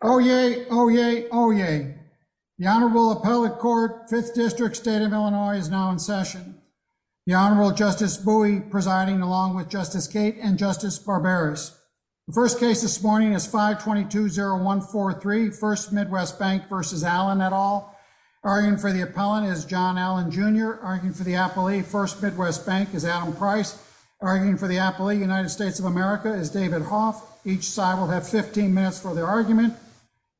Oh yay, oh yay, oh yay. The Honorable Appellate Court, 5th District, State of Illinois, is now in session. The Honorable Justice Bowie presiding along with Justice Cate and Justice Barberis. The first case this morning is 522-0143, First Midwest Bank v. Allen et al. Arguing for the appellant is John Allen Jr. Arguing for the appellee, First Midwest Bank, is Adam Price. Arguing for the appellee, United States of America, is David Hoff. Each side will have 15 minutes for their argument.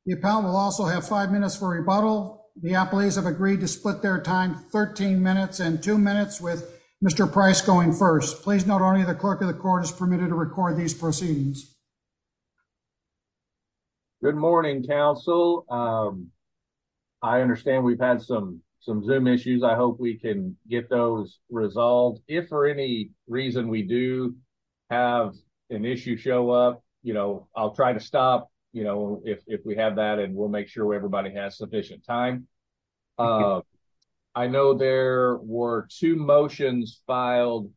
The appellant will also have 5 minutes for rebuttal. The appellees have agreed to split their time to 13 minutes and 2 minutes with Mr. Price going first. Please note only the clerk of the court is permitted to record these proceedings. Good morning, counsel. I understand we've had some Zoom issues. I hope we can get those resolved. If for any reason we do have an issue show up, I'll try to stop if we have that, and we'll make sure everybody has sufficient time. I know there were two motions filed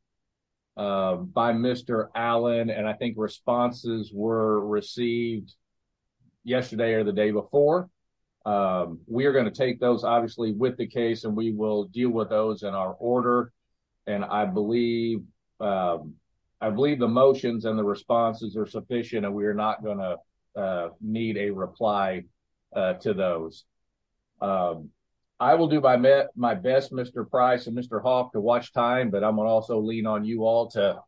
by Mr. Allen, and I think responses were received yesterday or the day before. We are going to take those, obviously, with the case, and we will deal with those in our order. I believe the motions and the responses are sufficient, and we're not going to need a reply to those. I will do my best, Mr. Price and Mr. Hoff, to watch time, but I'm going to also lean on you all to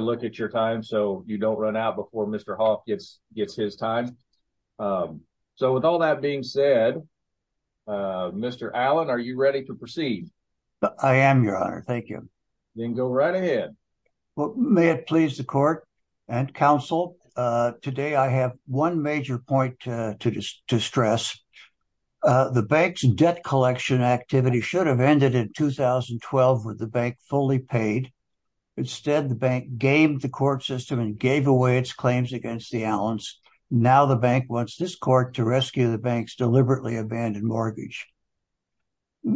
look at your time so you don't run out before Mr. Hoff gets his time. With all that being said, Mr. Allen, are you ready to proceed? I am, Your Honor. Thank you. Then go right ahead. May it please the court and counsel, today I have one major point to stress. The bank's debt collection activity should have ended in 2012 with the bank fully paid. Instead, the bank gamed the court system and gave away its claims against the Allens. Now the bank wants this court to rescue the bank's deliberately abandoned mortgage.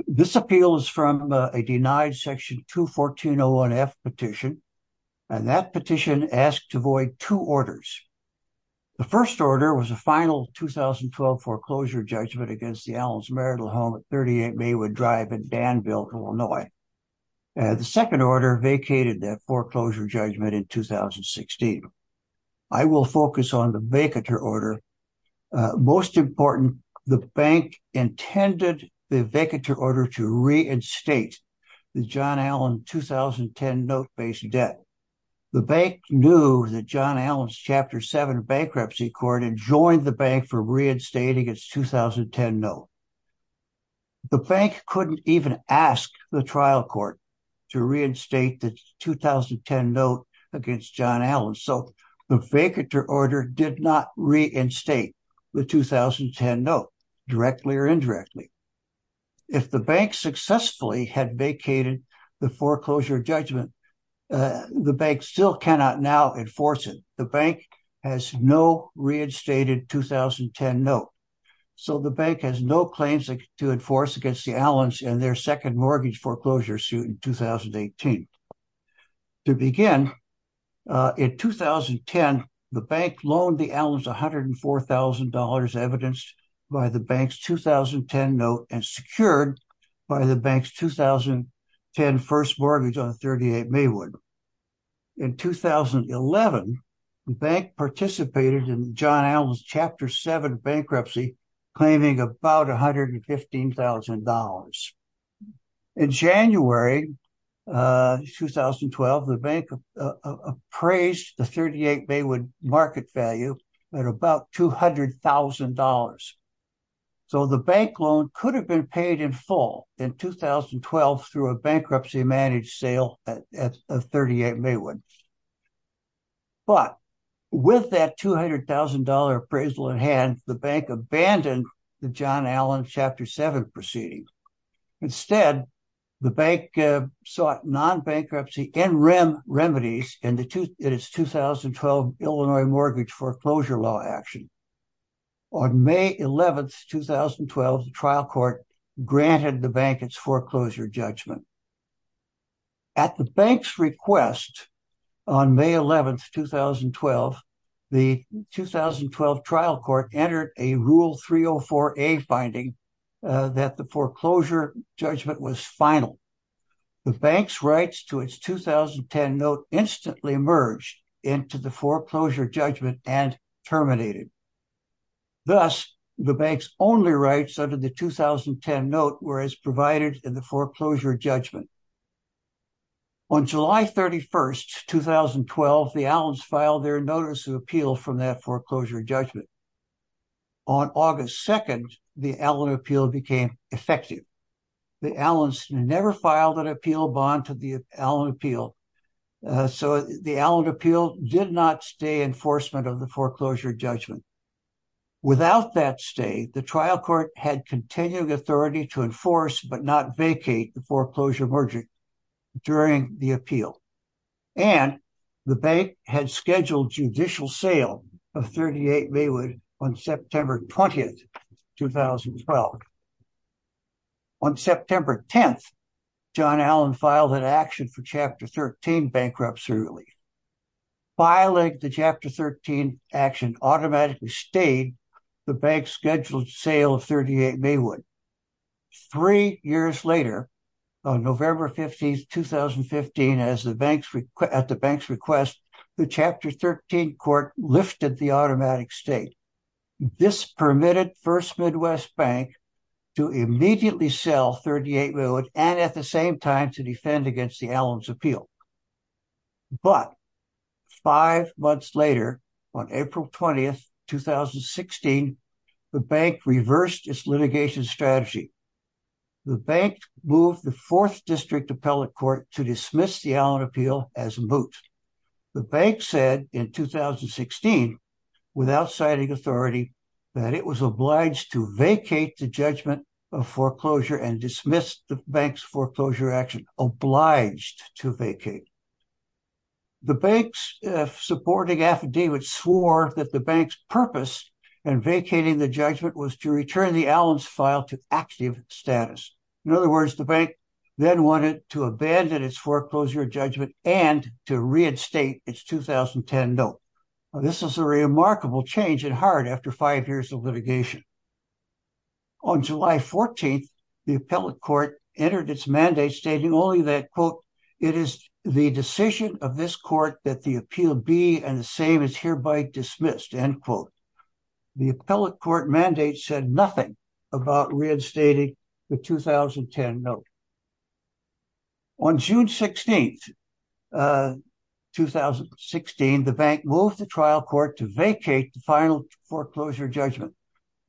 This appeal is from a denied Section 214-01F petition, and that petition asked to void two orders. The first order was a final 2012 foreclosure judgment against the Allens' marital home at 38 Maywood Drive in Danville, Illinois. The second order vacated that foreclosure judgment in 2016. I will focus on the vacatur order. Most important, the bank intended the vacatur order to reinstate the John Allen 2010 note-based debt. The bank knew that John Allen's Chapter 7 bankruptcy court had joined the bank for reinstating its 2010 note. The bank couldn't even ask the trial court to reinstate the 2010 note against John Allen, so the vacatur order did not reinstate the 2010 note, directly or indirectly. If the bank successfully had vacated the foreclosure judgment, the bank still cannot now enforce it. The bank has no reinstated 2010 note, so the bank has no claims to enforce against the Allens in their second mortgage foreclosure suit in 2018. To begin, in 2010, the bank loaned the Allens $104,000 evidenced by the bank's 2010 note and secured by the bank's 2010 first mortgage on 38 Maywood. In 2011, the bank participated in John Allen's Chapter 7 bankruptcy, claiming about $115,000. In January 2012, the bank appraised the 38 Maywood market value at about $200,000. So the bank loan could have been paid in full in 2012 through a bankruptcy managed sale at 38 Maywood. But with that $200,000 appraisal in hand, the bank abandoned the John Allen Chapter 7 proceeding. Instead, the bank sought non-bankruptcy NREM remedies in its 2012 Illinois mortgage foreclosure law action. On May 11, 2012, the trial court granted the bank its foreclosure judgment. At the bank's request on May 11, 2012, the 2012 trial court entered a Rule 304A finding that the foreclosure judgment was final. The bank's rights to its 2010 note instantly merged into the foreclosure judgment and terminated. Thus, the bank's only rights under the 2010 note were as provided in the foreclosure judgment. On July 31, 2012, the Allens filed their notice of appeal from that foreclosure judgment. On August 2, the Allen appeal became effective. The Allens never filed an appeal bond to the Allen appeal. So the Allen appeal did not stay enforcement of the foreclosure judgment. Without that stay, the trial court had continuing authority to enforce but not vacate the foreclosure merger during the appeal. And the bank had scheduled judicial sale of 38 Maywood on September 20, 2012. On September 10, John Allen filed an action for Chapter 13 bankruptcy relief. Filing the Chapter 13 action automatically stayed the bank's scheduled sale of 38 Maywood. Three years later, on November 15, 2015, at the bank's request, the Chapter 13 court lifted the automatic state. This permitted First Midwest Bank to immediately sell 38 Maywood and at the same time to defend against the Allens appeal. But five months later, on April 20, 2016, the bank reversed its litigation strategy. The bank moved the fourth district appellate court to dismiss the Allen appeal as moot. The bank said in 2016, without citing authority, that it was obliged to vacate the judgment of foreclosure and dismissed the bank's foreclosure action. Obliged to vacate. The bank's supporting affidavit swore that the bank's purpose in vacating the judgment was to return the Allens file to active status. In other words, the bank then wanted to abandon its foreclosure judgment and to reinstate its 2010 note. This is a remarkable change at heart after five years of litigation. On July 14, the appellate court entered its mandate stating only that, quote, it is the decision of this court that the appeal be and the same is hereby dismissed, end quote. The appellate court mandate said nothing about reinstating the 2010 note. On June 16, 2016, the bank moved the trial court to vacate the final foreclosure judgment.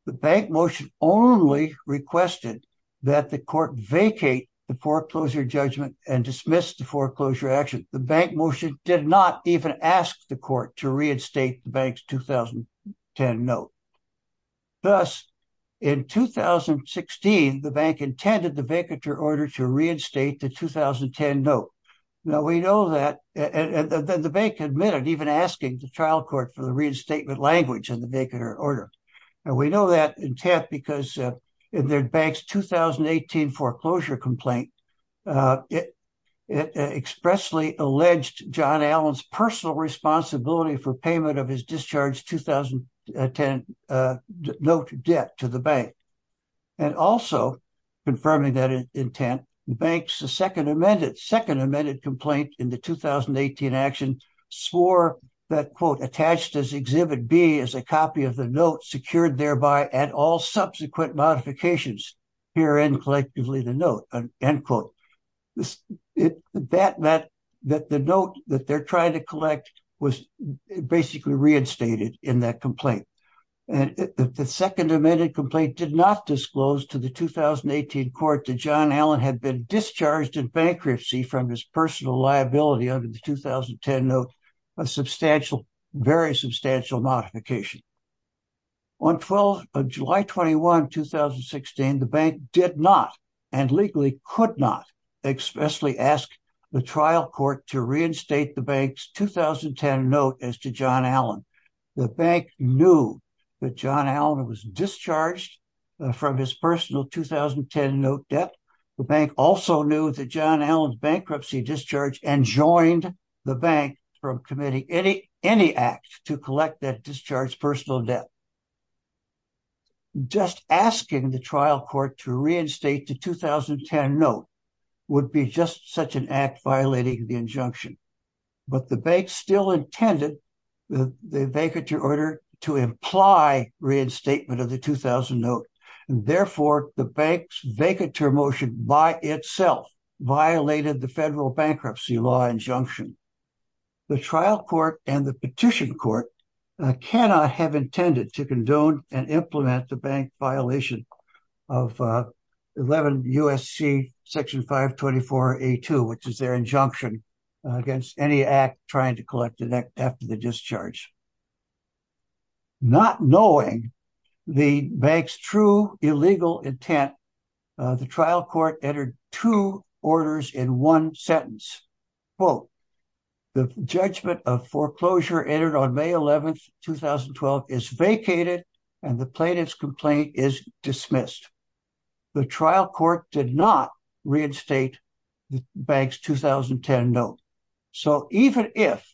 The bank motion only requested that the court vacate the foreclosure judgment and dismiss the foreclosure action. The bank motion did not even ask the court to reinstate the bank's 2010 note. Thus, in 2016, the bank intended the vacatur order to reinstate the 2010 note. Now, we know that and the bank admitted even asking the trial court for the reinstatement language in the vacatur order. And we know that intent because in their bank's 2018 foreclosure complaint, it expressly alleged John Allen's personal responsibility for payment of his discharged 2010 note debt to the bank. And also confirming that intent, the bank's second amended complaint in the 2018 action swore that, quote, attached as exhibit B as a copy of the note secured thereby at all subsequent modifications herein collectively the note, end quote. That meant that the note that they're trying to collect was basically reinstated in that complaint. And the second amended complaint did not disclose to the 2018 court that John Allen had been a substantial, very substantial modification. On July 21, 2016, the bank did not and legally could not expressly ask the trial court to reinstate the bank's 2010 note as to John Allen. The bank knew that John Allen was discharged from his personal 2010 note debt. The bank also knew that John Allen's bankruptcy discharge and joined the bank from committing any act to collect that discharged personal debt. Just asking the trial court to reinstate the 2010 note would be just such an act violating the injunction. But the bank still intended the vacatur order to imply reinstatement of the 2000 note. Therefore, the bank's vacatur motion by itself violated the federal bankruptcy law injunction. The trial court and the petition court cannot have intended to condone and implement the bank violation of 11 USC section 524A2, which is their injunction against any act trying to collect it after the discharge. Not knowing the bank's true illegal intent, the trial court entered two orders in one sentence. Quote, the judgment of foreclosure entered on May 11, 2012 is vacated and the plaintiff's complaint is dismissed. The trial court did not reinstate the bank's 2010 note. So even if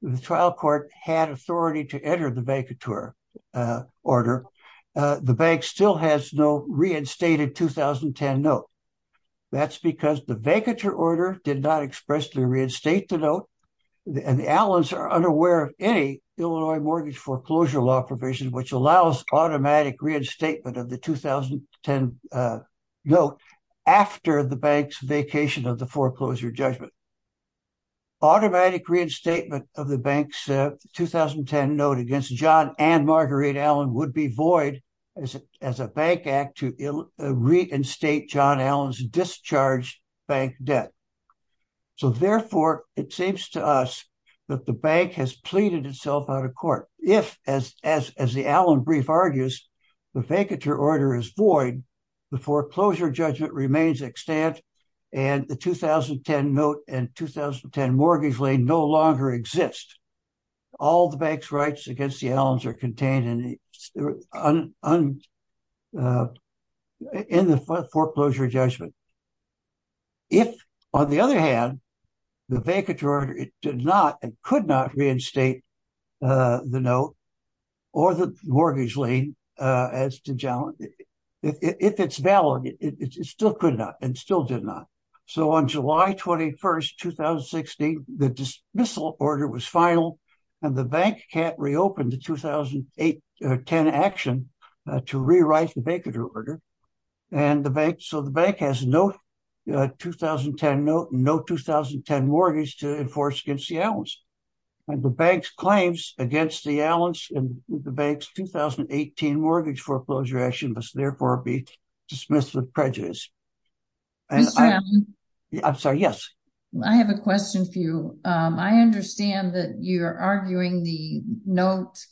the trial court had authority to enter the vacatur order, the bank still has no reinstated 2010 note. That's because the vacatur order did not expressly reinstate the note and the Allen's are unaware of any Illinois mortgage foreclosure law provision which allows automatic reinstatement of the 2010 note after the bank's vacation of the foreclosure judgment. Automatic reinstatement of the bank's 2010 note against John and Marguerite Allen would be void as a bank act to reinstate John Allen's discharged bank debt. So therefore, it seems to us that the bank has pleaded itself out of court. If, as the Allen brief argues, the vacatur order is void, the foreclosure judgment remains and the 2010 note and 2010 mortgage lien no longer exist. All the bank's rights against the Allen's are contained in the foreclosure judgment. If, on the other hand, the vacatur order did not and could not reinstate the note or the mortgage lien, if it's valid, it still could not. So on July 21st, 2016, the dismissal order was final and the bank can't reopen the 2010 action to rewrite the vacatur order. And so the bank has no 2010 note and no 2010 mortgage to enforce against the Allen's. And the bank's claims against the Allen's and the bank's 2018 mortgage foreclosure action must therefore be dismissed with prejudice. And I'm sorry. Yes, I have a question for you. I understand that you're arguing the note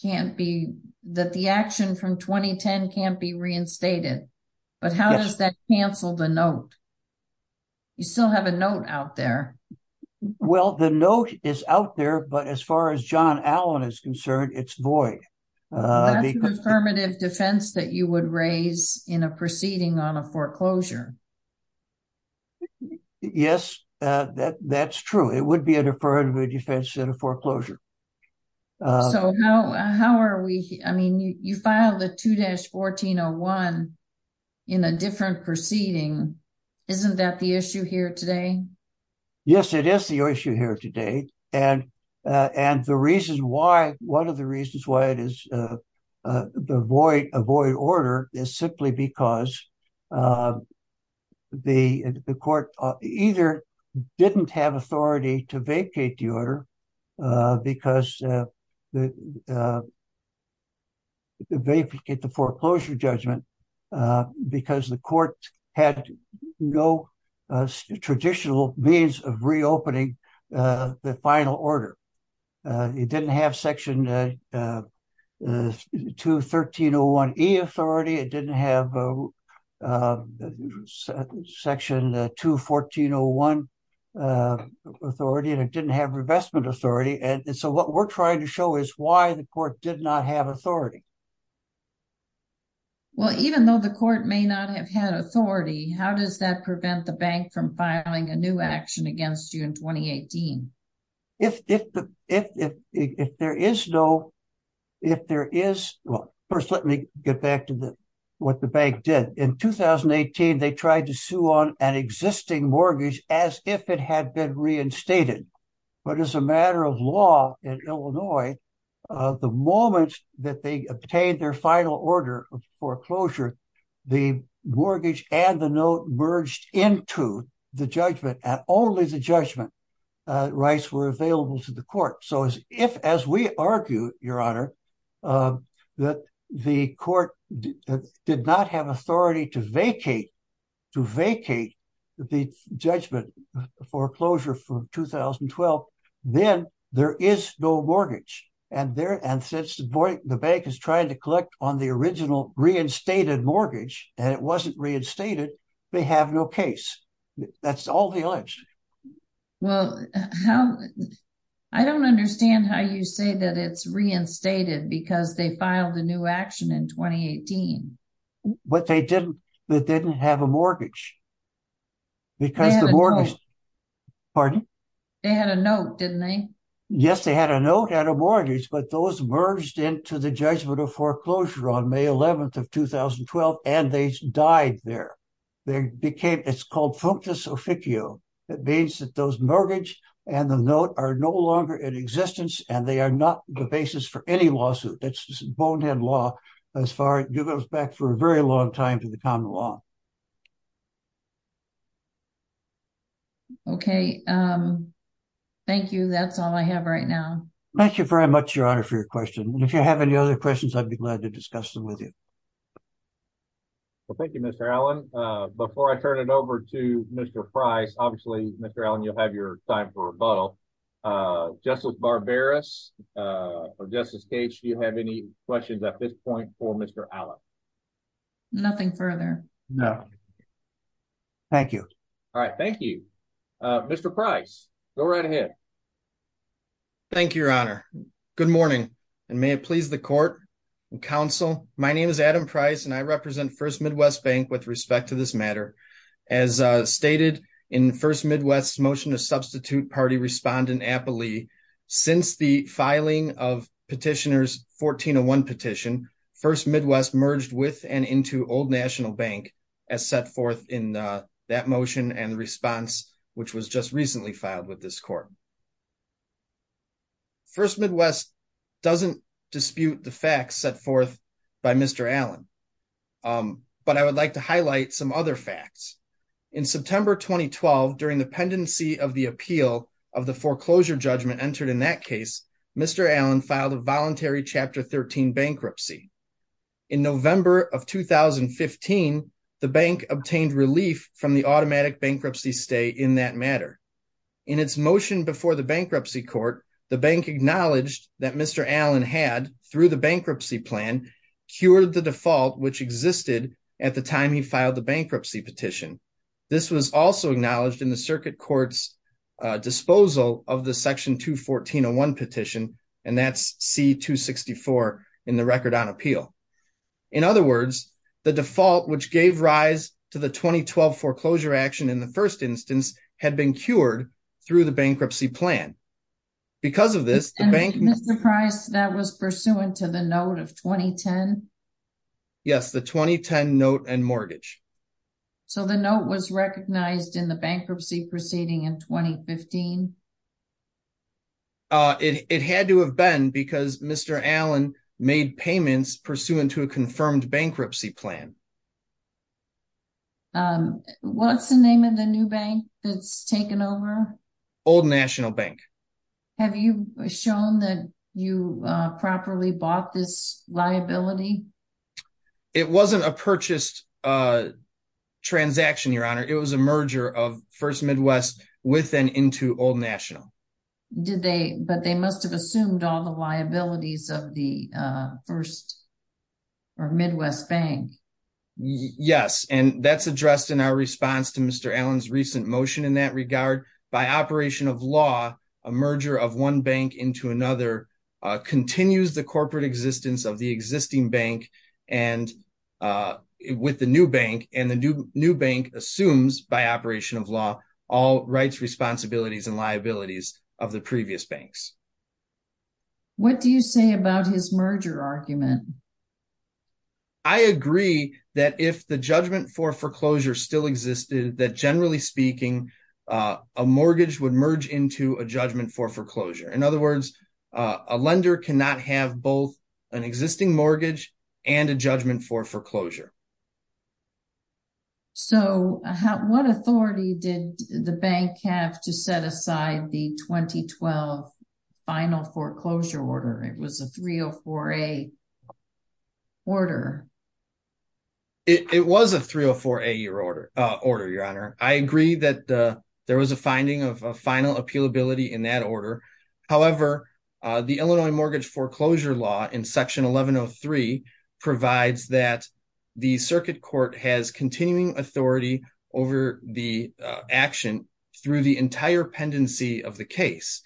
can't be that the action from 2010 can't be reinstated. But how does that cancel the note? You still have a note out there. Well, the note is out there. But as far as John Allen is concerned, it's void. That's the affirmative defense that you would raise in a proceeding on a foreclosure. Yes, that's true. It would be an affirmative defense in a foreclosure. So how are we? I mean, you filed a 2-1401 in a different proceeding. Isn't that the issue here today? Yes, it is the issue here today. And one of the reasons why it is a void order is simply because the court either didn't have authority to vacate the order because the foreclosure judgment, because the court had no traditional means of reopening the final order. It didn't have section 2-1301E authority. It didn't have section 2-1401 authority. And it didn't have revestment authority. And so what we're trying to show is why the court did not have authority. Well, even though the court may not have had authority, how does that prevent the bank from filing a new action against you in 2018? First, let me get back to what the bank did. In 2018, they tried to sue on an existing mortgage as if it had been reinstated. But as a matter of law in Illinois, the moment that they obtained their final order of foreclosure, the mortgage and the note merged into the judgment. And only the judgment rights were available to the court. So if, as we argue, Your Honor, that the court did not have authority to vacate the judgment foreclosure from 2012, then there is no mortgage. And since the bank is trying to collect on the original reinstated mortgage, and it wasn't reinstated, they have no case. That's all they alleged. Well, I don't understand how you say that it's reinstated because they filed a new action in 2018. But they didn't have a mortgage. They had a note, didn't they? Yes, they had a note and a mortgage. But those merged into the judgment of foreclosure on May 11th of 2012, and they died there. It's called functus officio. It means that those mortgage and the note are no longer in existence, and they are not the basis for any lawsuit. That's bonehead law as far as it goes back for a very long time to the common law. Okay, thank you. That's all I have right now. Thank you very much, Your Honor, for your question. If you have any other questions, I'd be glad to discuss them with you. Well, thank you, Mr. Allen. Before I turn it over to Mr. Price, obviously, Mr. Allen, you'll have your time for rebuttal. Justice Barberas or Justice Cage, do you have any questions at this point for Mr. Allen? Nothing further. No, thank you. All right, thank you. Mr. Price, go right ahead. Thank you, Your Honor. Good morning, and may it please the court and counsel. My name is Adam Price, and I represent First Midwest Bank with respect to this matter. As stated in First Midwest's motion to substitute party respondent, Appley, since the filing of petitioner's 1401 petition, First Midwest merged with and into Old National Bank as set forth in that motion and response, which was just recently filed with this court. First Midwest doesn't dispute the facts set forth by Mr. Allen, but I would like to highlight some other facts. In September 2012, during the pendency of the appeal of the foreclosure judgment entered in that case, Mr. Allen filed a voluntary Chapter 13 bankruptcy. In November of 2015, the bank obtained relief from the automatic bankruptcy stay in that matter. In its motion before the bankruptcy court, the bank acknowledged that Mr. Allen had, through the bankruptcy plan, cured the default which existed at the time he filed the bankruptcy petition. This was also acknowledged in the circuit court's disposal of the Section 214-01 petition, and that's C-264 in the Record on Appeal. In other words, the default which gave rise to the 2012 foreclosure action in the first instance had been cured through the bankruptcy plan. Because of this, the bank- Mr. Price, that was pursuant to the note of 2010? Yes, the 2010 note and mortgage. So the note was recognized in the bankruptcy proceeding in 2015? It had to have been because Mr. Allen made payments pursuant to a confirmed bankruptcy plan. What's the name of the new bank that's taken over? Old National Bank. Have you shown that you properly bought this liability? It wasn't a purchased transaction, Your Honor. It was a merger of First Midwest with and into Old National. But they must have assumed all the liabilities of the First or Midwest Bank. Yes, and that's addressed in our response to Mr. Allen's recent motion in that regard. By operation of law, a merger of one bank into another continues the corporate existence of the existing bank with the new bank. And the new bank assumes, by operation of law, all rights, responsibilities, and liabilities of the previous banks. What do you say about his merger argument? I agree that if the judgment for foreclosure still existed, that generally speaking, a mortgage would merge into a judgment for foreclosure. In other words, a lender cannot have both an existing mortgage and a judgment for foreclosure. So what authority did the bank have to set aside the 2012 final foreclosure order? It was a 304A order. It was a 304A order, Your Honor. I agree that there was a finding of final appealability in that order. However, the Illinois Mortgage Foreclosure Law in Section 1103 provides that the circuit court has continuing authority over the action through the entire pendency of the case.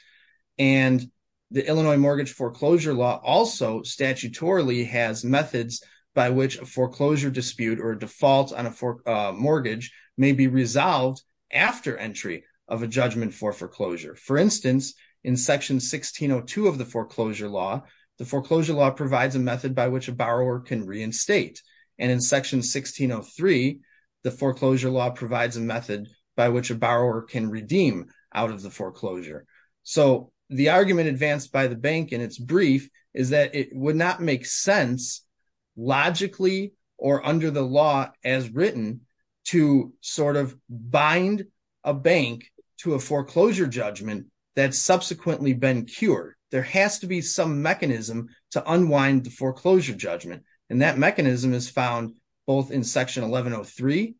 And the Illinois Mortgage Foreclosure Law also statutorily has methods by which a foreclosure dispute or default on a mortgage may be resolved after entry of a judgment for foreclosure. For instance, in Section 1602 of the foreclosure law, the foreclosure law provides a method by which a borrower can reinstate. And in Section 1603, the foreclosure law provides a method by which a borrower can redeem out of the foreclosure. So the argument advanced by the bank in its brief is that it would not make sense logically or under the law as written to sort of bind a bank to a foreclosure judgment that's subsequently been cured. There has to be some mechanism to unwind the foreclosure judgment. And that mechanism is found both in Section 1103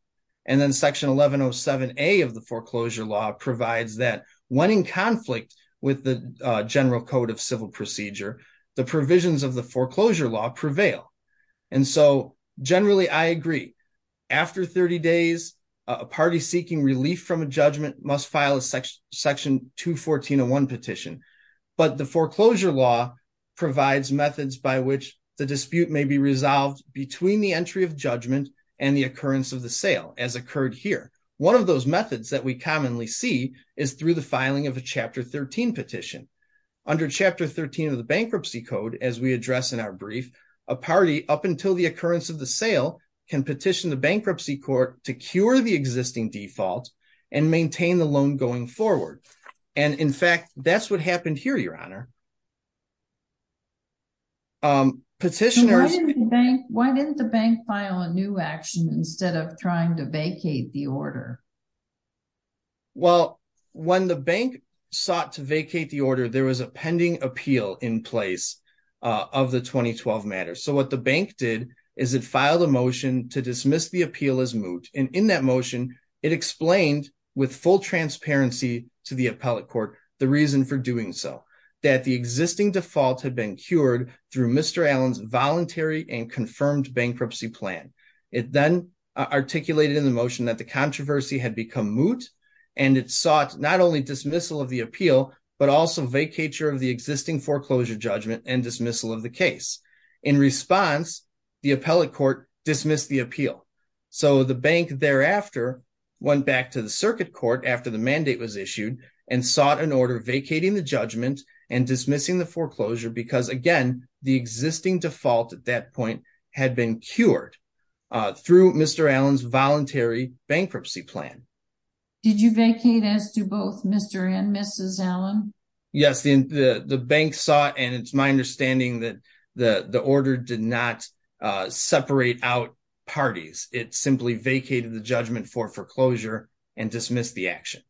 and then Section 1107A of the foreclosure law provides that when in conflict with the General Code of Civil Procedure, the provisions of the foreclosure law prevail. And so generally, I agree. After 30 days, a party seeking relief from a judgment must file a Section 214.01 petition. But the foreclosure law provides methods by which the dispute may be resolved between the entry of judgment and the occurrence of the sale as occurred here. One of those methods that we commonly see is through the filing of a Chapter 13 petition. Under Chapter 13 of the Bankruptcy Code, as we address in our brief, a party up until the occurrence of the sale can petition the Bankruptcy Court to cure the existing default and maintain the loan going forward. And in fact, that's what happened here, Your Honor. Petitioners... Why didn't the bank file a new action instead of trying to vacate the order? There was a pending appeal in place of the 2012 matter. So what the bank did is it filed a motion to dismiss the appeal as moot. And in that motion, it explained with full transparency to the appellate court the reason for doing so, that the existing default had been cured through Mr. Allen's voluntary and confirmed bankruptcy plan. It then articulated in the motion that the controversy had become moot and it sought not only dismissal of the appeal, but also vacature of the existing foreclosure judgment and dismissal of the case. In response, the appellate court dismissed the appeal. So the bank thereafter went back to the circuit court after the mandate was issued and sought an order vacating the judgment and dismissing the foreclosure because again, the existing default at that point had been cured through Mr. Allen's voluntary bankruptcy plan. Did you vacate as to both Mr. and Mrs. Allen? Yes, the bank sought and it's my understanding that the order did not separate out parties. It simply vacated the judgment for foreclosure and dismissed the action.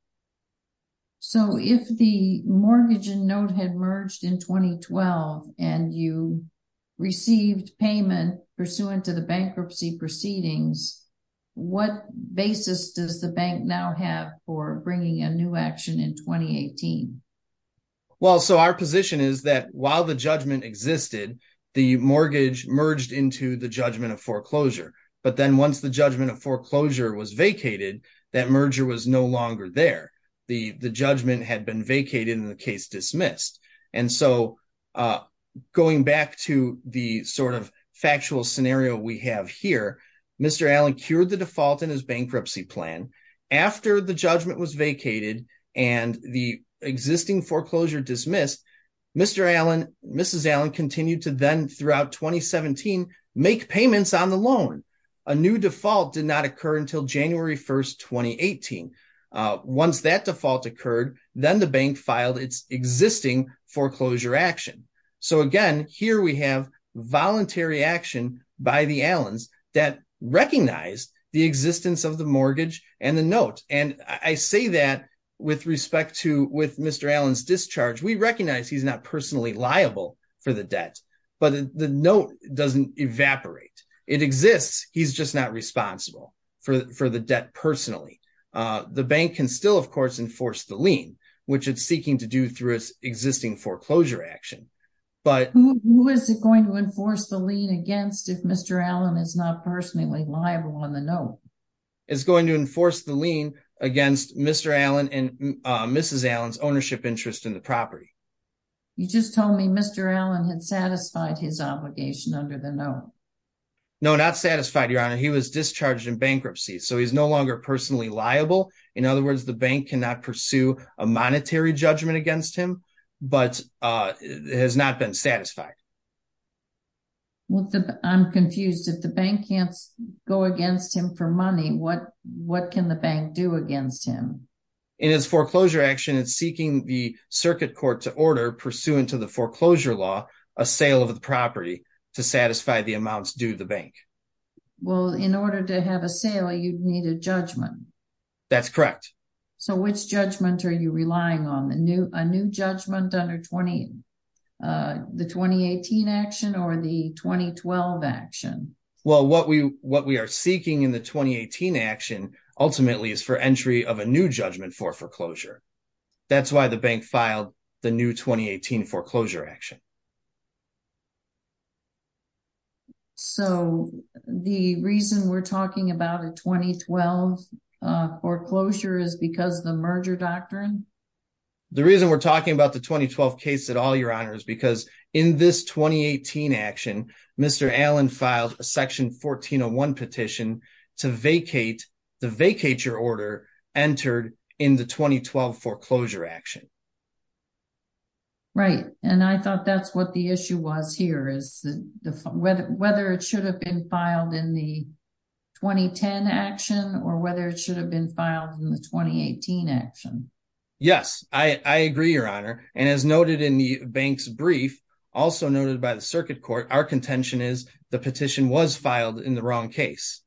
So if the mortgage and note had merged in 2012 and you received payment pursuant to the bankruptcy proceedings, what basis does the bank now have for bringing a new action in 2018? Well, so our position is that while the judgment existed, the mortgage merged into the judgment of foreclosure. But then once the judgment of foreclosure was vacated, that merger was no longer there. The judgment had been vacated and the case dismissed. And so going back to the sort of factual scenario we have here, Mr. Allen cured the default in his bankruptcy plan. After the judgment was vacated and the existing foreclosure dismissed, Mrs. Allen continued to then throughout 2017 make payments on the loan. A new default did not occur until January 1st, 2018. Once that default occurred, then the bank filed its existing foreclosure action. That recognized the existence of the mortgage and the note. And I say that with respect to with Mr. Allen's discharge, we recognize he's not personally liable for the debt, but the note doesn't evaporate. It exists, he's just not responsible for the debt personally. The bank can still, of course, enforce the lien, which it's seeking to do through its existing foreclosure action. But who is it going to enforce the lien against if Mr. Allen is not personally liable on the note? It's going to enforce the lien against Mr. Allen and Mrs. Allen's ownership interest in the property. You just told me Mr. Allen had satisfied his obligation under the note. No, not satisfied, Your Honor. He was discharged in bankruptcy, so he's no longer personally liable. In other words, the bank cannot pursue a monetary judgment against him, but has not been satisfied. I'm confused. If the bank can't go against him for money, what can the bank do against him? In its foreclosure action, it's seeking the circuit court to order, pursuant to the foreclosure law, a sale of the property to satisfy the amounts due to the bank. Well, in order to have a sale, you'd need a judgment. That's correct. So which judgment are you relying on? A new judgment under the 2018 action or the 2012 action? Well, what we are seeking in the 2018 action, ultimately, is for entry of a new judgment for foreclosure. That's why the bank filed the new 2018 foreclosure action. So the reason we're talking about a 2012 foreclosure is because of the merger doctrine? The reason we're talking about the 2012 case at all, Your Honor, is because in this 2018 action, Mr. Allen filed a Section 1401 petition to vacate your order entered in the 2012 foreclosure action. Right. And I thought that's what the issue was here, whether it should have been filed in the 2010 action or whether it should have been filed in the 2018 action. Yes, I agree, Your Honor. And as noted in the bank's brief, also noted by the Circuit Court, our contention is the petition was filed in the wrong case.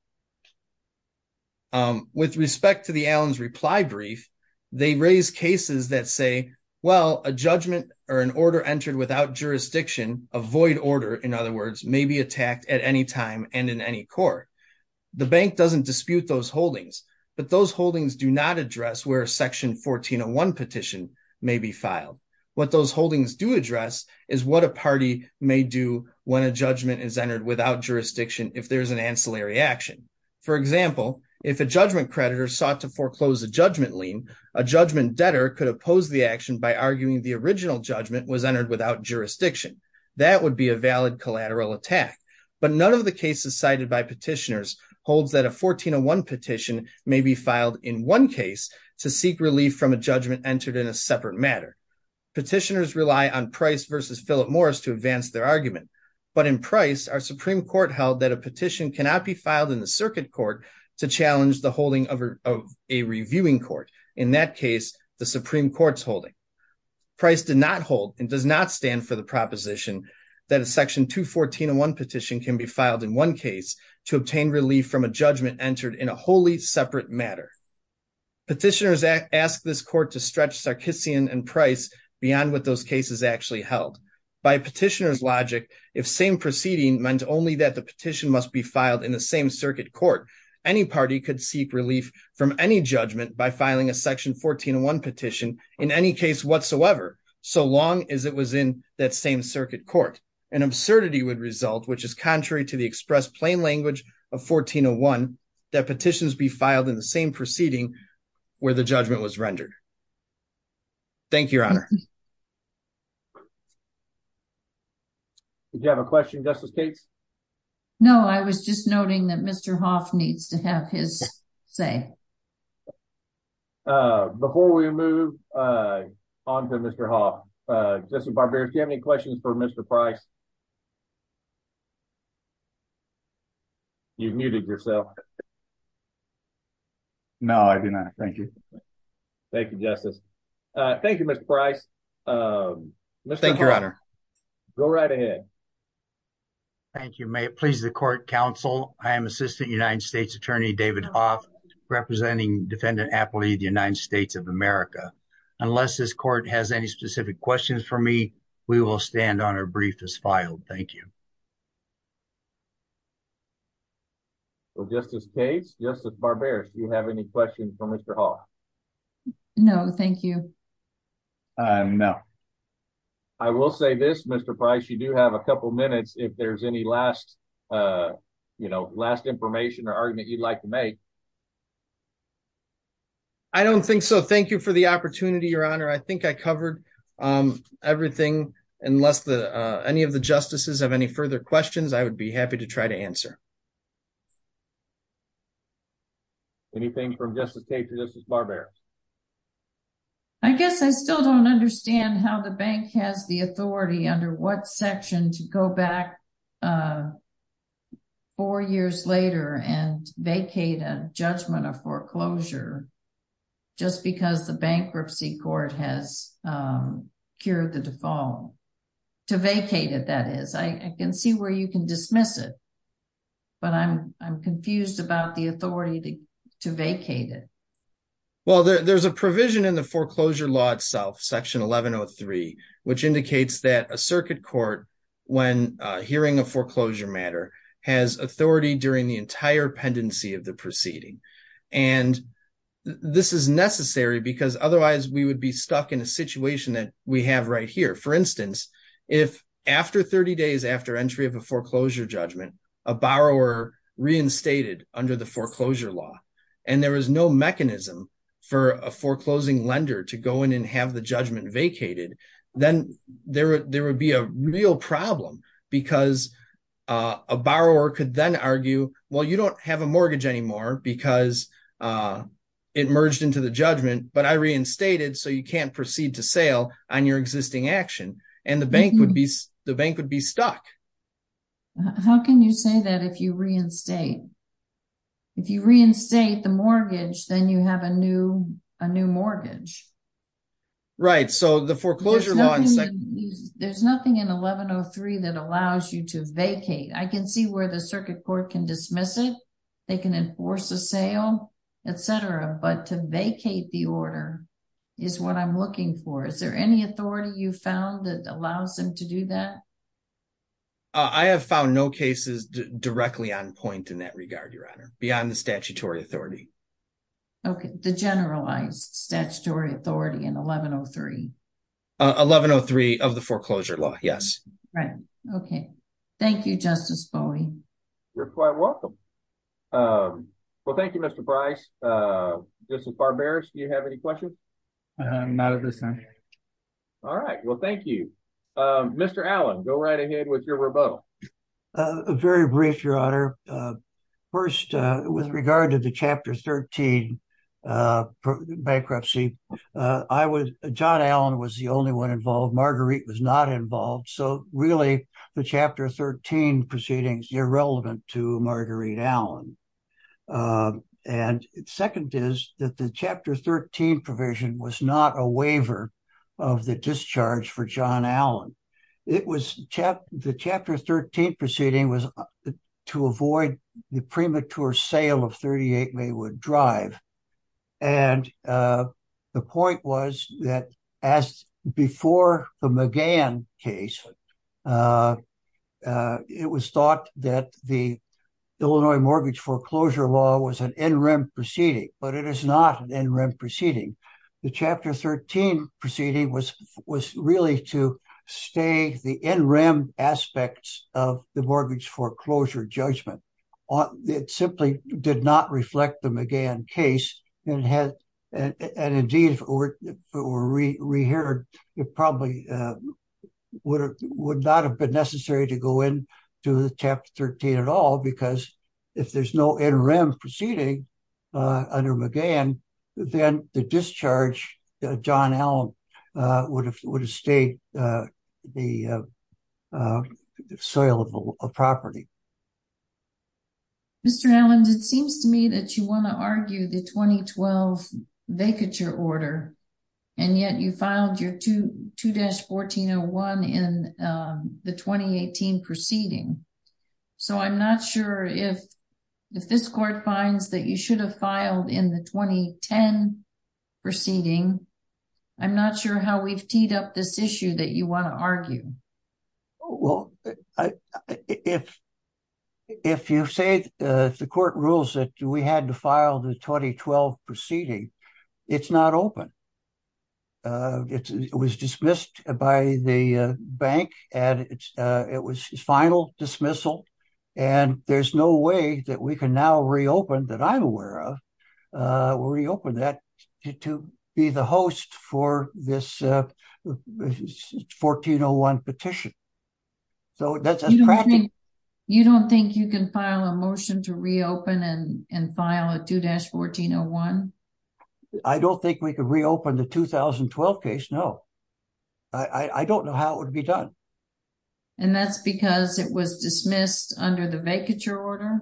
With respect to the Allen's reply brief, they raise cases that say, well, a judgment or an order entered without jurisdiction, a void order, in other words, may be attacked at any time and in any court. The bank doesn't dispute those holdings, but those holdings do not address where a Section 1401 petition may be filed. What those holdings do address is what a party may do when a judgment is entered without jurisdiction if there's an ancillary action. For example, if a judgment creditor sought to foreclose a judgment lien, a judgment debtor could oppose the action by arguing the original judgment was entered without jurisdiction. That would be a valid collateral attack. But none of the cases cited by petitioners holds that a 1401 petition may be filed in one case to seek relief from a judgment entered in a separate matter. Petitioners rely on Price versus Philip Morris to advance their argument. But in Price, our Supreme Court held that a petition cannot be filed in the Circuit Court to challenge the holding of a reviewing court. In that case, the Supreme Court's holding. Price did not hold and does not stand for the proposition that a Section 214 and one petition can be filed in one case to obtain relief from a judgment entered in a wholly separate matter. Petitioners ask this court to stretch Sarkeesian and Price beyond what those cases actually held. By petitioners logic, if same proceeding meant only that the petition must be filed in the same Circuit Court, any party could seek relief from any judgment by filing a Section 1401 petition in any case whatsoever, so long as it was in that same Circuit Court. An absurdity would result, which is contrary to the express plain language of 1401, that petitions be filed in the same proceeding where the judgment was rendered. Thank you, Your Honor. Did you have a question, Justice Cates? No, I was just noting that Mr. Hoff needs to have his say. Uh, before we move, uh, onto Mr. Hoff, uh, Justice Barber, do you have any questions for Mr. Price? You've muted yourself. No, I do not. Thank you. Thank you, Justice. Uh, thank you, Mr. Price. Um, Mr. Hoff. Thank you, Your Honor. Go right ahead. Thank you. May it please the court, counsel, I am Assistant United States Attorney David Hoff, representing Defendant Appley of the United States of America. Unless this court has any specific questions for me, we will stand on our brief as filed. Thank you. So, Justice Cates, Justice Barber, do you have any questions for Mr. Hoff? No, thank you. Uh, no. I will say this, Mr. Price, you do have a couple minutes if there's any last, uh, you know, last information or argument you'd like to make. I don't think so. Thank you for the opportunity, Your Honor. I think I covered, um, everything. Unless the, uh, any of the justices have any further questions, I would be happy to try to answer. Anything from Justice Cates or Justice Barber? I guess I still don't understand how the bank has the authority under what section to go back, uh, four years later and vacate a judgment of foreclosure just because the bankruptcy court has, um, cured the default. To vacate it, that is. I can see where you can dismiss it, but I'm confused about the authority to vacate it. Well, there's a provision in the foreclosure law itself, section 1103, which indicates that a circuit court, when, uh, hearing a foreclosure matter, has authority during the entire pendency of the proceeding. And this is necessary because otherwise we would be stuck in a situation that we have right here. For instance, if after 30 days after entry of a foreclosure judgment, a borrower reinstated under the foreclosure law, and there was no mechanism for a foreclosing lender to go in and have the judgment vacated, then there would be a real problem because, uh, a borrower could then argue, well, you don't have a mortgage anymore because, uh, it merged into the judgment, but I reinstated so you can't proceed to sale on your existing action. And the bank would be, the bank would be stuck. How can you say that if you reinstate? If you reinstate the mortgage, then you have a new, a new mortgage, right? So the foreclosure law, there's nothing in 1103 that allows you to vacate. I can see where the circuit court can dismiss it. They can enforce a sale, et cetera. But to vacate the order is what I'm looking for. Is there any authority you found that allows them to do that? Uh, I have found no cases directly on point in that regard, Your Honor, beyond the statutory authority. Okay. The generalized statutory authority in 1103. 1103 of the foreclosure law. Yes. Right. Okay. Thank you, Justice Bowie. You're quite welcome. Um, well, thank you, Mr. Price. Uh, Justice Barberis, do you have any questions? Uh, not at this time. All right. Well, thank you. Um, Mr. Allen, go right ahead with your rebuttal. Uh, very brief, Your Honor. Uh, first, uh, with regard to the Chapter 13, uh, bankruptcy, uh, I was, John Allen was the only one involved. Marguerite was not involved. So really the Chapter 13 proceedings irrelevant to Marguerite Allen. Uh, and second is that the Chapter 13 provision was not a waiver of the It was the Chapter 13 proceeding was to avoid the premature sale of 38 Maywood drive. And, uh, the point was that as before the McGann case, uh, uh, it was thought that the Illinois mortgage foreclosure law was an NREM proceeding, but it is not an NREM proceeding. The Chapter 13 proceeding was, was really to stay the NREM aspects of the mortgage foreclosure judgment. It simply did not reflect the McGann case. And it had, and indeed, if it were, if it were reheard, it probably, uh, would have, would not have been necessary to go in to the Chapter 13 at all, because if there's no NREM proceeding, uh, under McGann, then the discharge, uh, John Allen, uh, would have, would have stayed, uh, the, uh, uh, sale of a property. Mr. Allen, it seems to me that you want to argue the 2012 vacature order, and yet you filed your two, 2-1401 in, um, the 2018 proceeding. So I'm not sure if, if this court finds that you should have filed in the 2010 proceeding, I'm not sure how we've teed up this issue that you want to argue. Well, if, if you say, uh, the court rules that we had to file the 2012 proceeding, it's not open. Uh, it's, it was dismissed by the bank and it's, uh, it was final dismissal and there's no way that we can now reopen that I'm aware of, uh, reopen that to be the host for this, uh, 1401 petition. So that's a practice. You don't think you can file a motion to reopen and, and file a 2-1401? I don't think we could reopen the 2012 case. No, I don't know how it would be done. And that's because it was dismissed under the vacature order?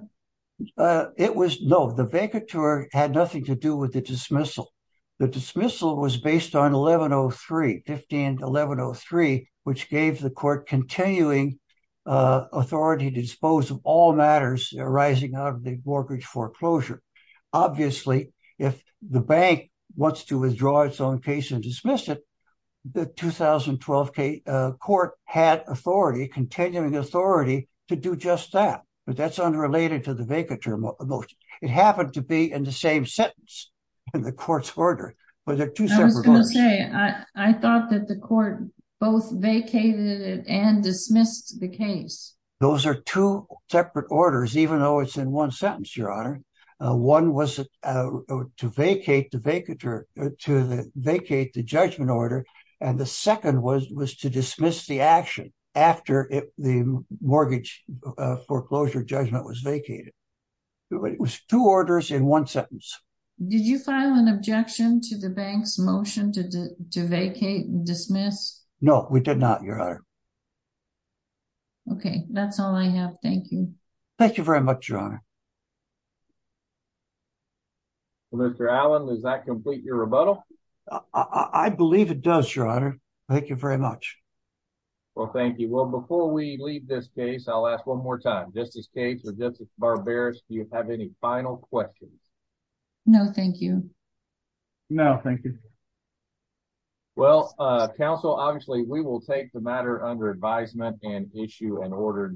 It was, no, the vacature had nothing to do with the dismissal. The dismissal was based on 1103, 15 to 1103, which gave the court continuing, uh, authority to dispose of all matters arising out of the mortgage foreclosure. Obviously, if the bank wants to withdraw its own case and dismiss it, the 2012 case, uh, court had authority, continuing authority to do just that. But that's unrelated to the vacature motion. It happened to be in the same sentence in the court's order, but there are two separate I was going to say, I thought that the court both vacated it and dismissed the case. Those are two separate orders, even though it's in one sentence, your honor. One was to vacate the vacature, to vacate the judgment order. And the second was, was to dismiss the action after it, the mortgage foreclosure judgment was vacated, but it was two orders in one sentence. Did you file an objection to the bank's motion to vacate and dismiss? No, we did not, your honor. Okay. That's all I have. Thank you. Thank you very much, your honor. Well, Mr. Allen, does that complete your rebuttal? I believe it does, your honor. Thank you very much. Well, thank you. Well, before we leave this case, I'll ask one more time, Justice Cates or Justice Barberis, do you have any final questions? No, thank you. No, thank you. Well, uh, counsel, obviously we will take the matter under advisement and issue an order